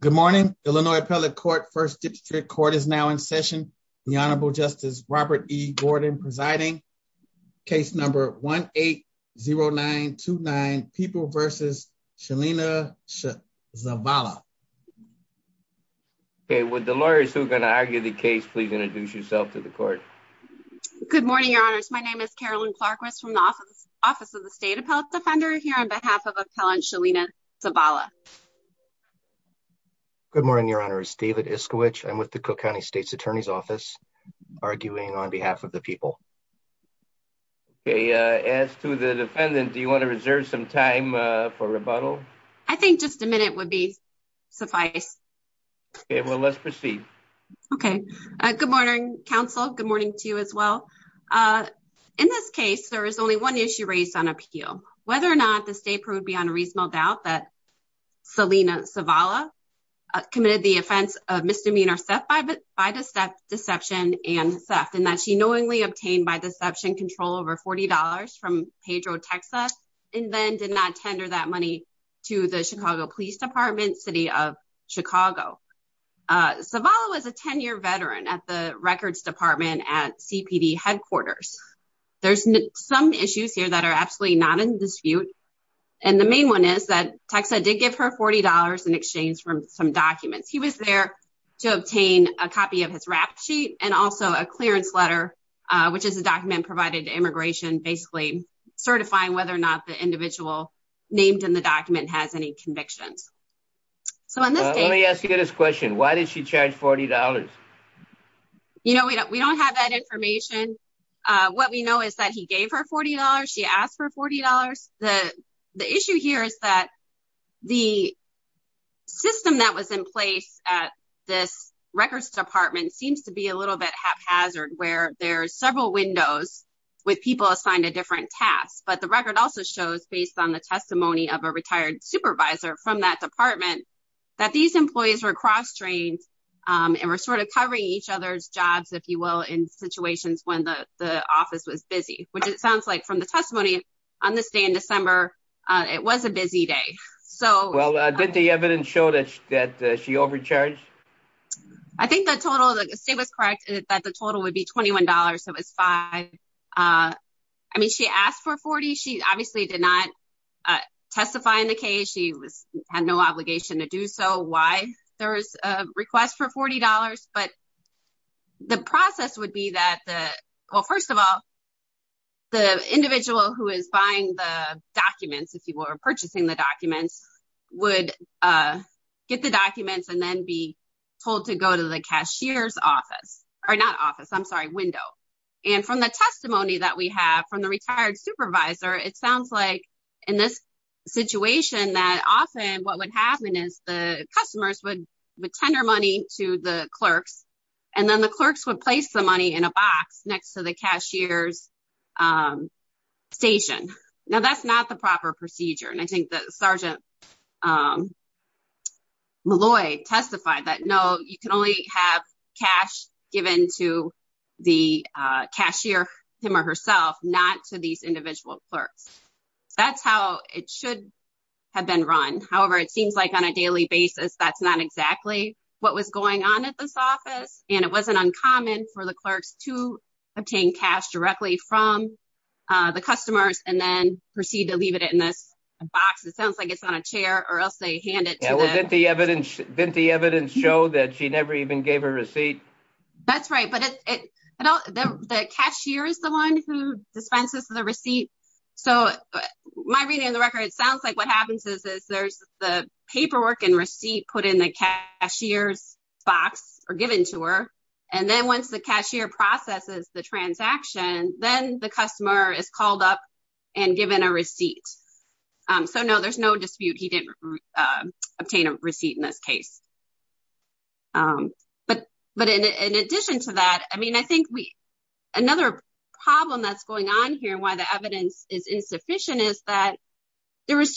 Good morning, Illinois Appellate Court, 1st District Court is now in session. The Honorable Justice Robert E. Gordon presiding. Case number 1-8-0-9-2-9, People v. Shalena Zavala. Okay, would the lawyers who are going to argue the case please introduce yourself to the court. Good morning, Your Honors. My name is Carolyn Clarquist from the Office of the State Appellate Defender here on behalf of Appellant Shalena Zavala. Good morning, Your Honors. David Iskowich. I'm with the Cook County State's Attorney's Office arguing on behalf of the people. As to the defendant, do you want to reserve some time for rebuttal? I think just a minute would be suffice. Okay, well, let's proceed. Okay, good morning, counsel. Good morning to you as well. In this case, there is only one issue raised on appeal. Whether or not the state proved beyond a reasonable doubt that Shalena Zavala committed the offense of misdemeanor theft by deception and theft, and that she knowingly obtained by deception control over $40 from Pedro, Texas, and then did not tender that money to the Chicago Police Department, City of Chicago. Zavala was a 10-year veteran at the Records Department at CPD headquarters. There's some issues here that are absolutely not in dispute. And the main one is that Texas did give her $40 in exchange for some documents. He was there to obtain a copy of his rap sheet and also a clearance letter, which is a document provided to immigration, basically certifying whether or not the individual named in the document has any convictions. Let me ask you this question. Why did she charge $40? You know, we don't have that information. What we know is that he gave her $40. She asked for $40. The issue here is that the system that was in place at this Records Department seems to be a little bit haphazard, where there are several windows with people assigned to different tasks. But the record also shows, based on the testimony of a retired supervisor from that department, that these employees were cross-trained and were sort of covering each other's jobs, if you will, in situations when the office was busy, which it sounds like from the testimony on this day in December, it was a busy day. Well, did the evidence show that she overcharged? I think the total, the state was correct, that the total would be $21. I mean, she asked for $40. She obviously did not testify in the case. She had no obligation to do so. Why there is a request for $40? But the process would be that, well, first of all, the individual who is buying the documents, if you were purchasing the documents, would get the documents and then be told to go to the cashier's office. I'm sorry, window. And from the testimony that we have from the retired supervisor, it sounds like in this situation that often what would happen is the customers would tender money to the clerks, and then the clerks would place the money in a box next to the cashier's station. Now, that's not the proper procedure. And I think that Sergeant Malloy testified that, no, you can only have cash given to the cashier, him or herself, not to these individual clerks. That's how it should have been run. However, it seems like on a daily basis that's not exactly what was going on at this office, and it wasn't uncommon for the clerks to obtain cash directly from the customers and then proceed to leave it in this box. It sounds like it's on a chair or else they hand it to the – Didn't the evidence show that she never even gave a receipt? That's right. But the cashier is the one who dispenses the receipt. So my reading of the record, it sounds like what happens is there's the paperwork and receipt put in the cashier's box or given to her, and then once the cashier processes the transaction, then the customer is called up and given a receipt. So, no, there's no dispute he didn't obtain a receipt in this case. But in addition to that, I mean, I think another problem that's going on here and why the evidence is insufficient is that there's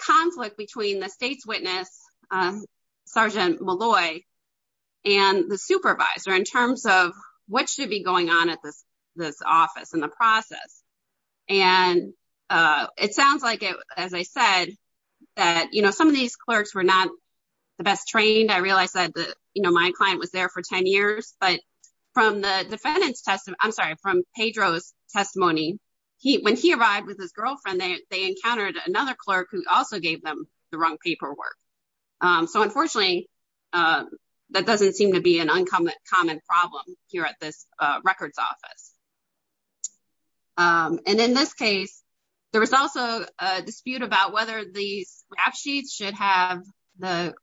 conflict between the state's witness, Sergeant Malloy, and the supervisor in terms of what should be going on at this office and the process. And it sounds like, as I said, that some of these clerks were not the best trained. I realize that my client was there for 10 years. But from the defendant's testimony – I'm sorry, from Pedro's testimony, when he arrived with his girlfriend, they encountered another clerk who also gave them the wrong paperwork. So, unfortunately, that doesn't seem to be an uncommon problem here at this records office. And in this case, there was also a dispute about whether these rap sheets should have the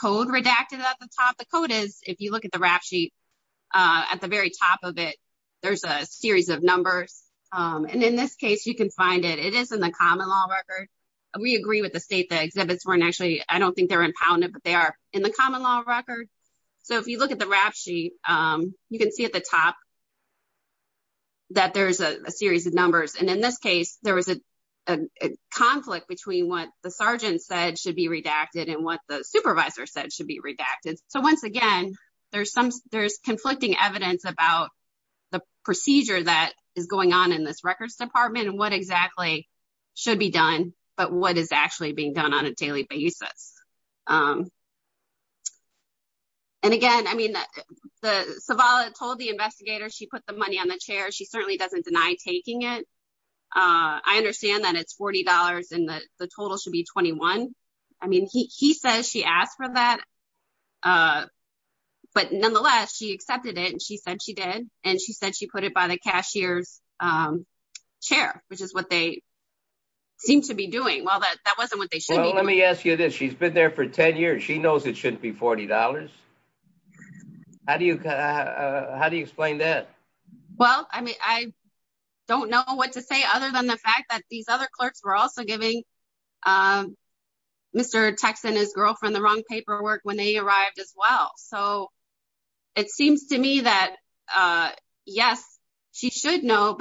code redacted at the top. And what the code is, if you look at the rap sheet, at the very top of it, there's a series of numbers. And in this case, you can find it. It is in the common law record. We agree with the state that exhibits weren't actually – I don't think they were impounded, but they are in the common law record. So, if you look at the rap sheet, you can see at the top that there's a series of numbers. And in this case, there was a conflict between what the sergeant said should be redacted and what the supervisor said should be redacted. So, once again, there's conflicting evidence about the procedure that is going on in this records department and what exactly should be done but what is actually being done on a daily basis. And, again, I mean, Savala told the investigator she put the money on the chair. She certainly doesn't deny taking it. I understand that it's $40 and the total should be $21. I mean, he says she asked for that, but nonetheless, she accepted it and she said she did. And she said she put it by the cashier's chair, which is what they seem to be doing. Well, that wasn't what they should be doing. Well, let me ask you this. She's been there for 10 years. She knows it shouldn't be $40. How do you explain that? Well, I mean, I don't know what to say other than the fact that these other clerks were also giving Mr. Tex and his girlfriend the wrong paperwork when they arrived as well. So, it seems to me that, yes, she should know,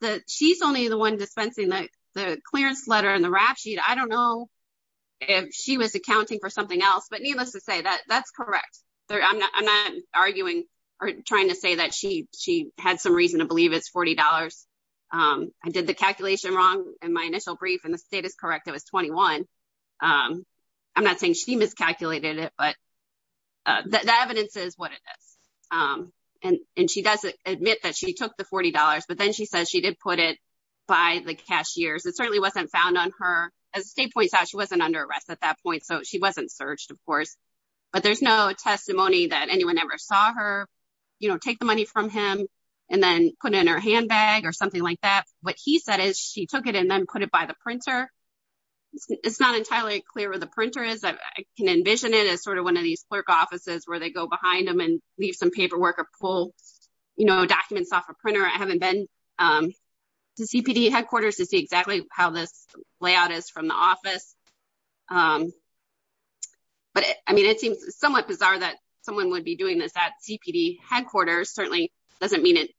but she's only the one dispensing the clearance letter and the rap sheet. I don't know if she was accounting for something else, but needless to say, that's correct. I'm not arguing or trying to say that she had some reason to believe it's $40. I did the calculation wrong in my initial brief, and the state is correct. It was $21. I'm not saying she miscalculated it, but the evidence is what it is. And she does admit that she took the $40, but then she says she did put it by the cashier's. It certainly wasn't found on her. As the state points out, she wasn't under arrest at that point, so she wasn't searched, of course. But there's no testimony that anyone ever saw her take the money from him and then put it in her handbag or something like that. What he said is she took it and then put it by the printer. It's not entirely clear where the printer is. I can envision it as sort of one of these clerk offices where they go behind them and leave some paperwork or pull documents off a printer. I haven't been to CPD headquarters to see exactly how this layout is from the office. But, I mean, it seems somewhat bizarre that someone would be doing this at CPD headquarters. Certainly doesn't mean it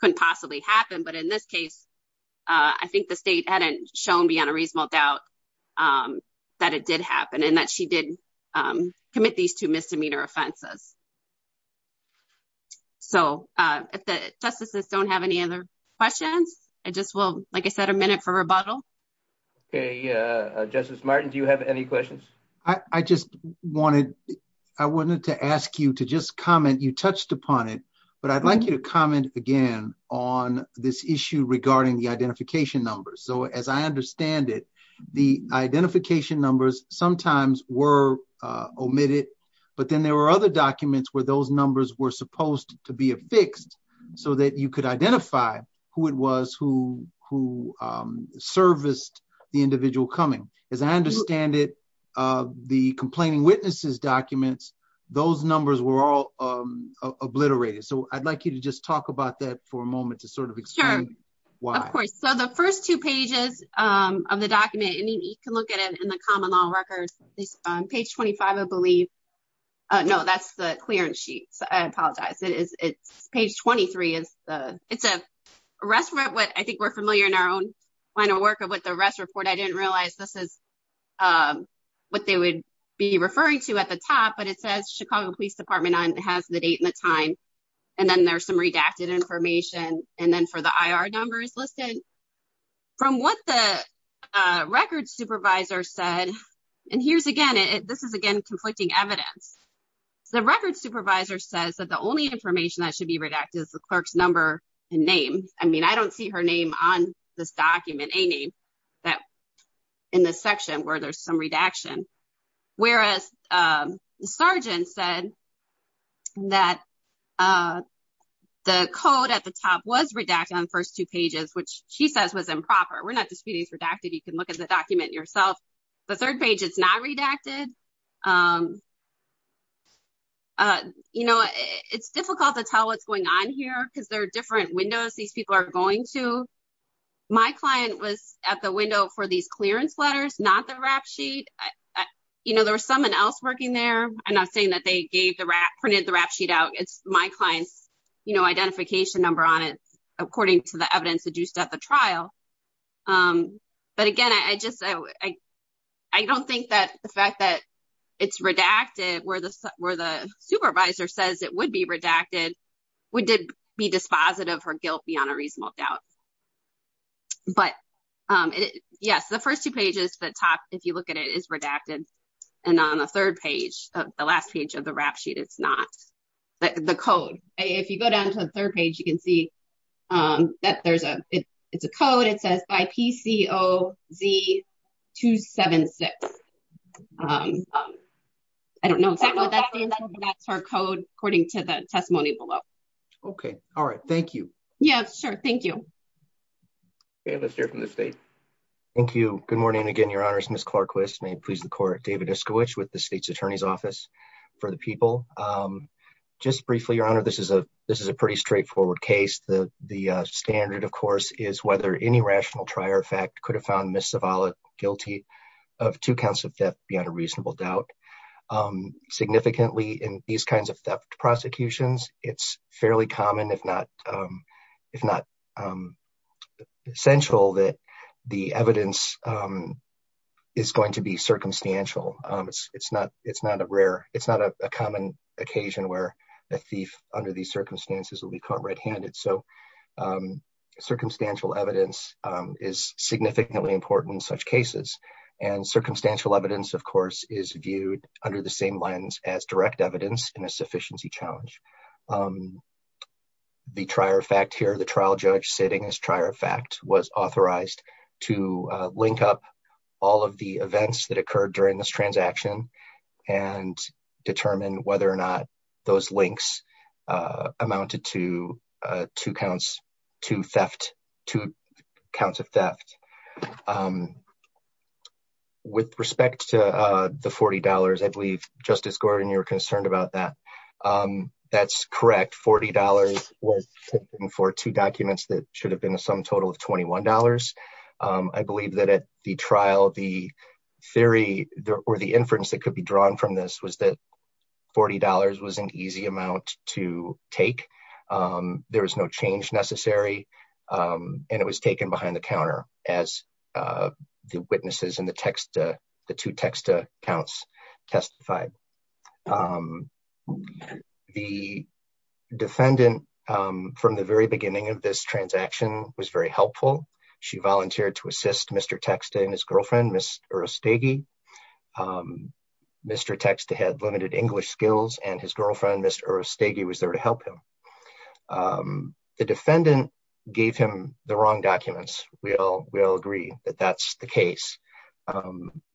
couldn't possibly happen. But in this case, I think the state hadn't shown beyond a reasonable doubt that it did happen and that she did commit these two misdemeanor offenses. So if the justices don't have any other questions, I just will, like I said, a minute for rebuttal. Okay. Justice Martin, do you have any questions? I just wanted to ask you to just comment. You touched upon it, but I'd like you to comment again on this issue regarding the identification numbers. So as I understand it, the identification numbers sometimes were omitted. But then there were other documents where those numbers were supposed to be affixed so that you could identify who it was who serviced the individual coming. As I understand it, the complaining witnesses documents, those numbers were all obliterated. So I'd like you to just talk about that for a moment to sort of explain why. Of course. So the first two pages of the document, you can look at it in the common law records. Page 25, I believe. No, that's the clearance sheet. I apologize. It's page 23. It's an arrest. But I think we're familiar in our own line of work with the arrest report. I didn't realize this is what they would be referring to at the top. But it says Chicago Police Department has the date and the time. And then there's some redacted information. And then for the I.R. number is listed. From what the records supervisor said, and here's again, this is, again, conflicting evidence. The records supervisor says that the only information that should be redacted is the clerk's number and name. I mean, I don't see her name on this document, a name that in this section where there's some redaction. Whereas the sergeant said that the code at the top was redacted on the first two pages, which she says was improper. We're not disputing it's redacted. You can look at the document yourself. The third page, it's not redacted. You know, it's difficult to tell what's going on here because there are different windows these people are going to. My client was at the window for these clearance letters, not the rap sheet. You know, there was someone else working there. And I'm saying that they gave the rap printed the rap sheet out. It's my client's, you know, identification number on it, according to the evidence deduced at the trial. But again, I just I don't think that the fact that it's redacted where the where the supervisor says it would be redacted. We did be dispositive of her guilt beyond a reasonable doubt. But, yes, the first two pages, the top, if you look at it, is redacted. And on the third page, the last page of the rap sheet, it's not the code. If you go down to the third page, you can see that there's a it's a code. It says by PCOZ 276. I don't know. That's our code, according to the testimony below. OK. All right. Thank you. Yeah, sure. Thank you. Let's hear from the state. Thank you. Good morning again, Your Honors. Miss Clarke, please. The court, David Eskowitz with the state's attorney's office for the people. Just briefly, Your Honor, this is a this is a pretty straightforward case. The standard, of course, is whether any rational trier effect could have found Miss Zavala guilty of two counts of theft beyond a reasonable doubt. Significantly, in these kinds of theft prosecutions, it's fairly common, if not if not essential, that the evidence is going to be circumstantial. It's not it's not a rare it's not a common occasion where a thief under these circumstances will be caught red handed. So circumstantial evidence is significantly important in such cases. And circumstantial evidence, of course, is viewed under the same lens as direct evidence in a sufficiency challenge. The trier effect here, the trial judge sitting as trier effect was authorized to link up all of the events that occurred during this transaction and determine whether or not those links amounted to two counts, two theft, two counts of theft. With respect to the $40, I believe Justice Gordon, you're concerned about that. That's correct. $40 was for two documents that should have been a sum total of $21. I believe that at the trial, the theory or the inference that could be drawn from this was that $40 was an easy amount to take. There was no change necessary. And it was taken behind the counter, as the witnesses in the text, the two text accounts testified. The defendant from the very beginning of this transaction was very helpful. She volunteered to assist Mr text and his girlfriend, Mr. Mr. Text had limited English skills and his girlfriend, Mr. Was there to help him. The defendant gave him the wrong documents. We all will agree that that's the case.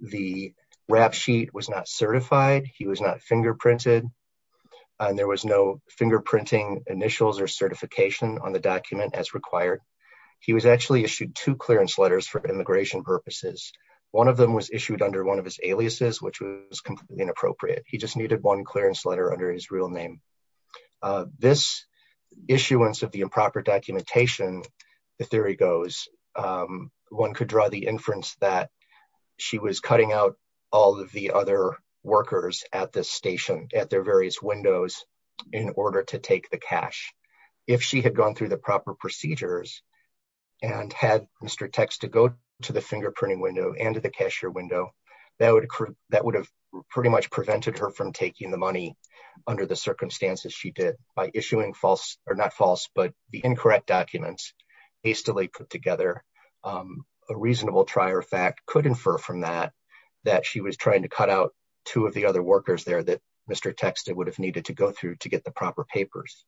The rap sheet was not certified. He was not fingerprinted And there was no fingerprinting initials or certification on the document as required. He was actually issued two clearance letters for immigration purposes. One of them was issued under one of his aliases, which was completely inappropriate. He just needed one clearance letter under his real name. This issuance of the improper documentation. The theory goes One could draw the inference that she was cutting out all of the other workers at this station at their various windows in order to take the cash. If she had gone through the proper procedures and had Mr. Text to go to the fingerprinting window and to the cashier window. That would, that would have pretty much prevented her from taking the money under the circumstances. She did by issuing false or not false, but the incorrect documents hastily put together. A reasonable trier fact could infer from that that she was trying to cut out two of the other workers there that Mr. Text, it would have needed to go through to get the proper papers.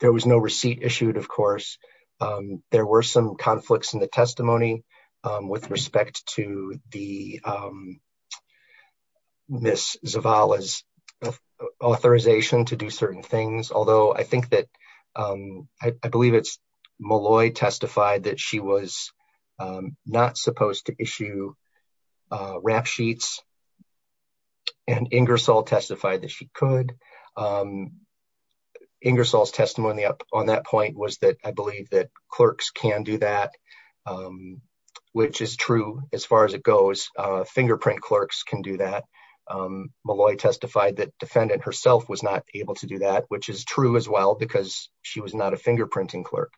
There was no receipt issued, of course, there were some conflicts in the testimony with respect to the Miss Zavala's authorization to do certain things, although I think that I believe it's Malloy testified that she was not supposed to issue rap sheets. And Ingersoll testified that she could Ingersoll's testimony on that point was that I believe that clerks can do that. Which is true. As far as it goes, fingerprint clerks can do that. Malloy testified that defendant herself was not able to do that, which is true as well because she was not a fingerprinting clerk.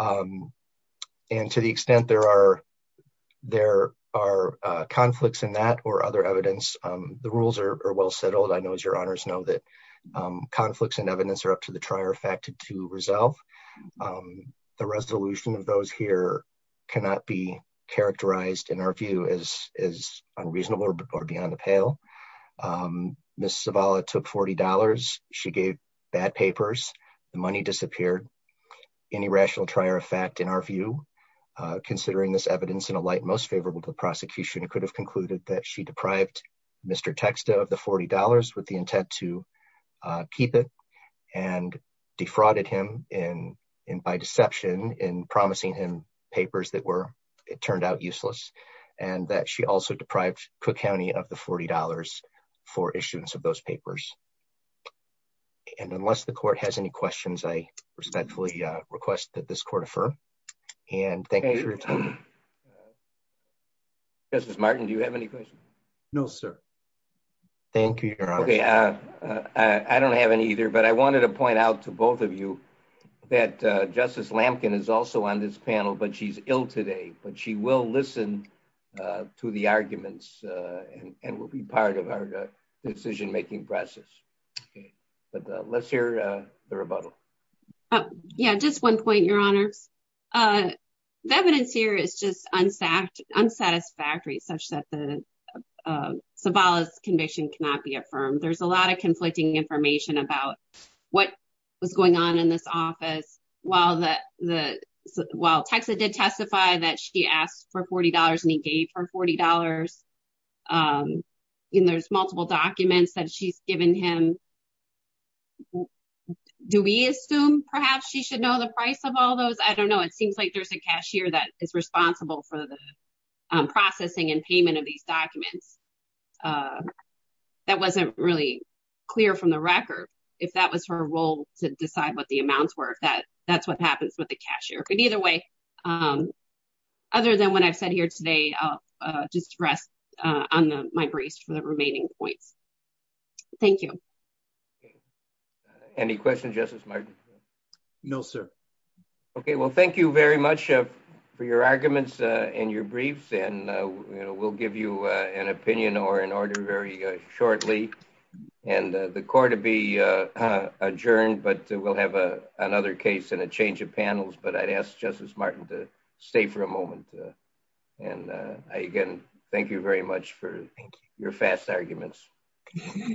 And to the extent there are, there are conflicts in that or other evidence, the rules are well settled. I know as your honors know that conflicts and evidence are up to the trier fact to resolve. The resolution of those here cannot be characterized in our view as unreasonable or beyond the pale. Miss Zavala took $40, she gave bad papers, the money disappeared. Any rational trier of fact, in our view, considering this evidence in a light most favorable to the prosecution, it could have concluded that she deprived Mr. Texta of the $40 with the intent to for issuance of those papers. And unless the court has any questions, I respectfully request that this court affirm. And thank you for your time. Justice Martin, do you have any questions? No, sir. Thank you. I don't have any either, but I wanted to point out to both of you that Justice Lampkin is also on this panel, but she's ill today, but she will listen to the arguments and will be part of our decision making process. But let's hear the rebuttal. Yeah, just one point, Your Honor. The evidence here is just unsatisfactory, such that Zavala's conviction cannot be affirmed. There's a lot of conflicting information about what was going on in this office. While Texta did testify that she asked for $40 and he gave her $40, and there's multiple documents that she's given him. Do we assume perhaps she should know the price of all those? I don't know. It seems like there's a cashier that is responsible for the processing and payment of these documents. That wasn't really clear from the record, if that was her role to decide what the amounts were, if that's what happens with the cashier. But either way, other than what I've said here today, I'll just rest on my brace for the remaining points. Thank you. Any questions, Justice Martin? No, sir. Okay, well, thank you very much for your arguments and your briefs, and we'll give you an opinion or an order very shortly. And the court will be adjourned, but we'll have another case and a change of panels, but I'd ask Justice Martin to stay for a moment. And again, thank you very much for your fast arguments.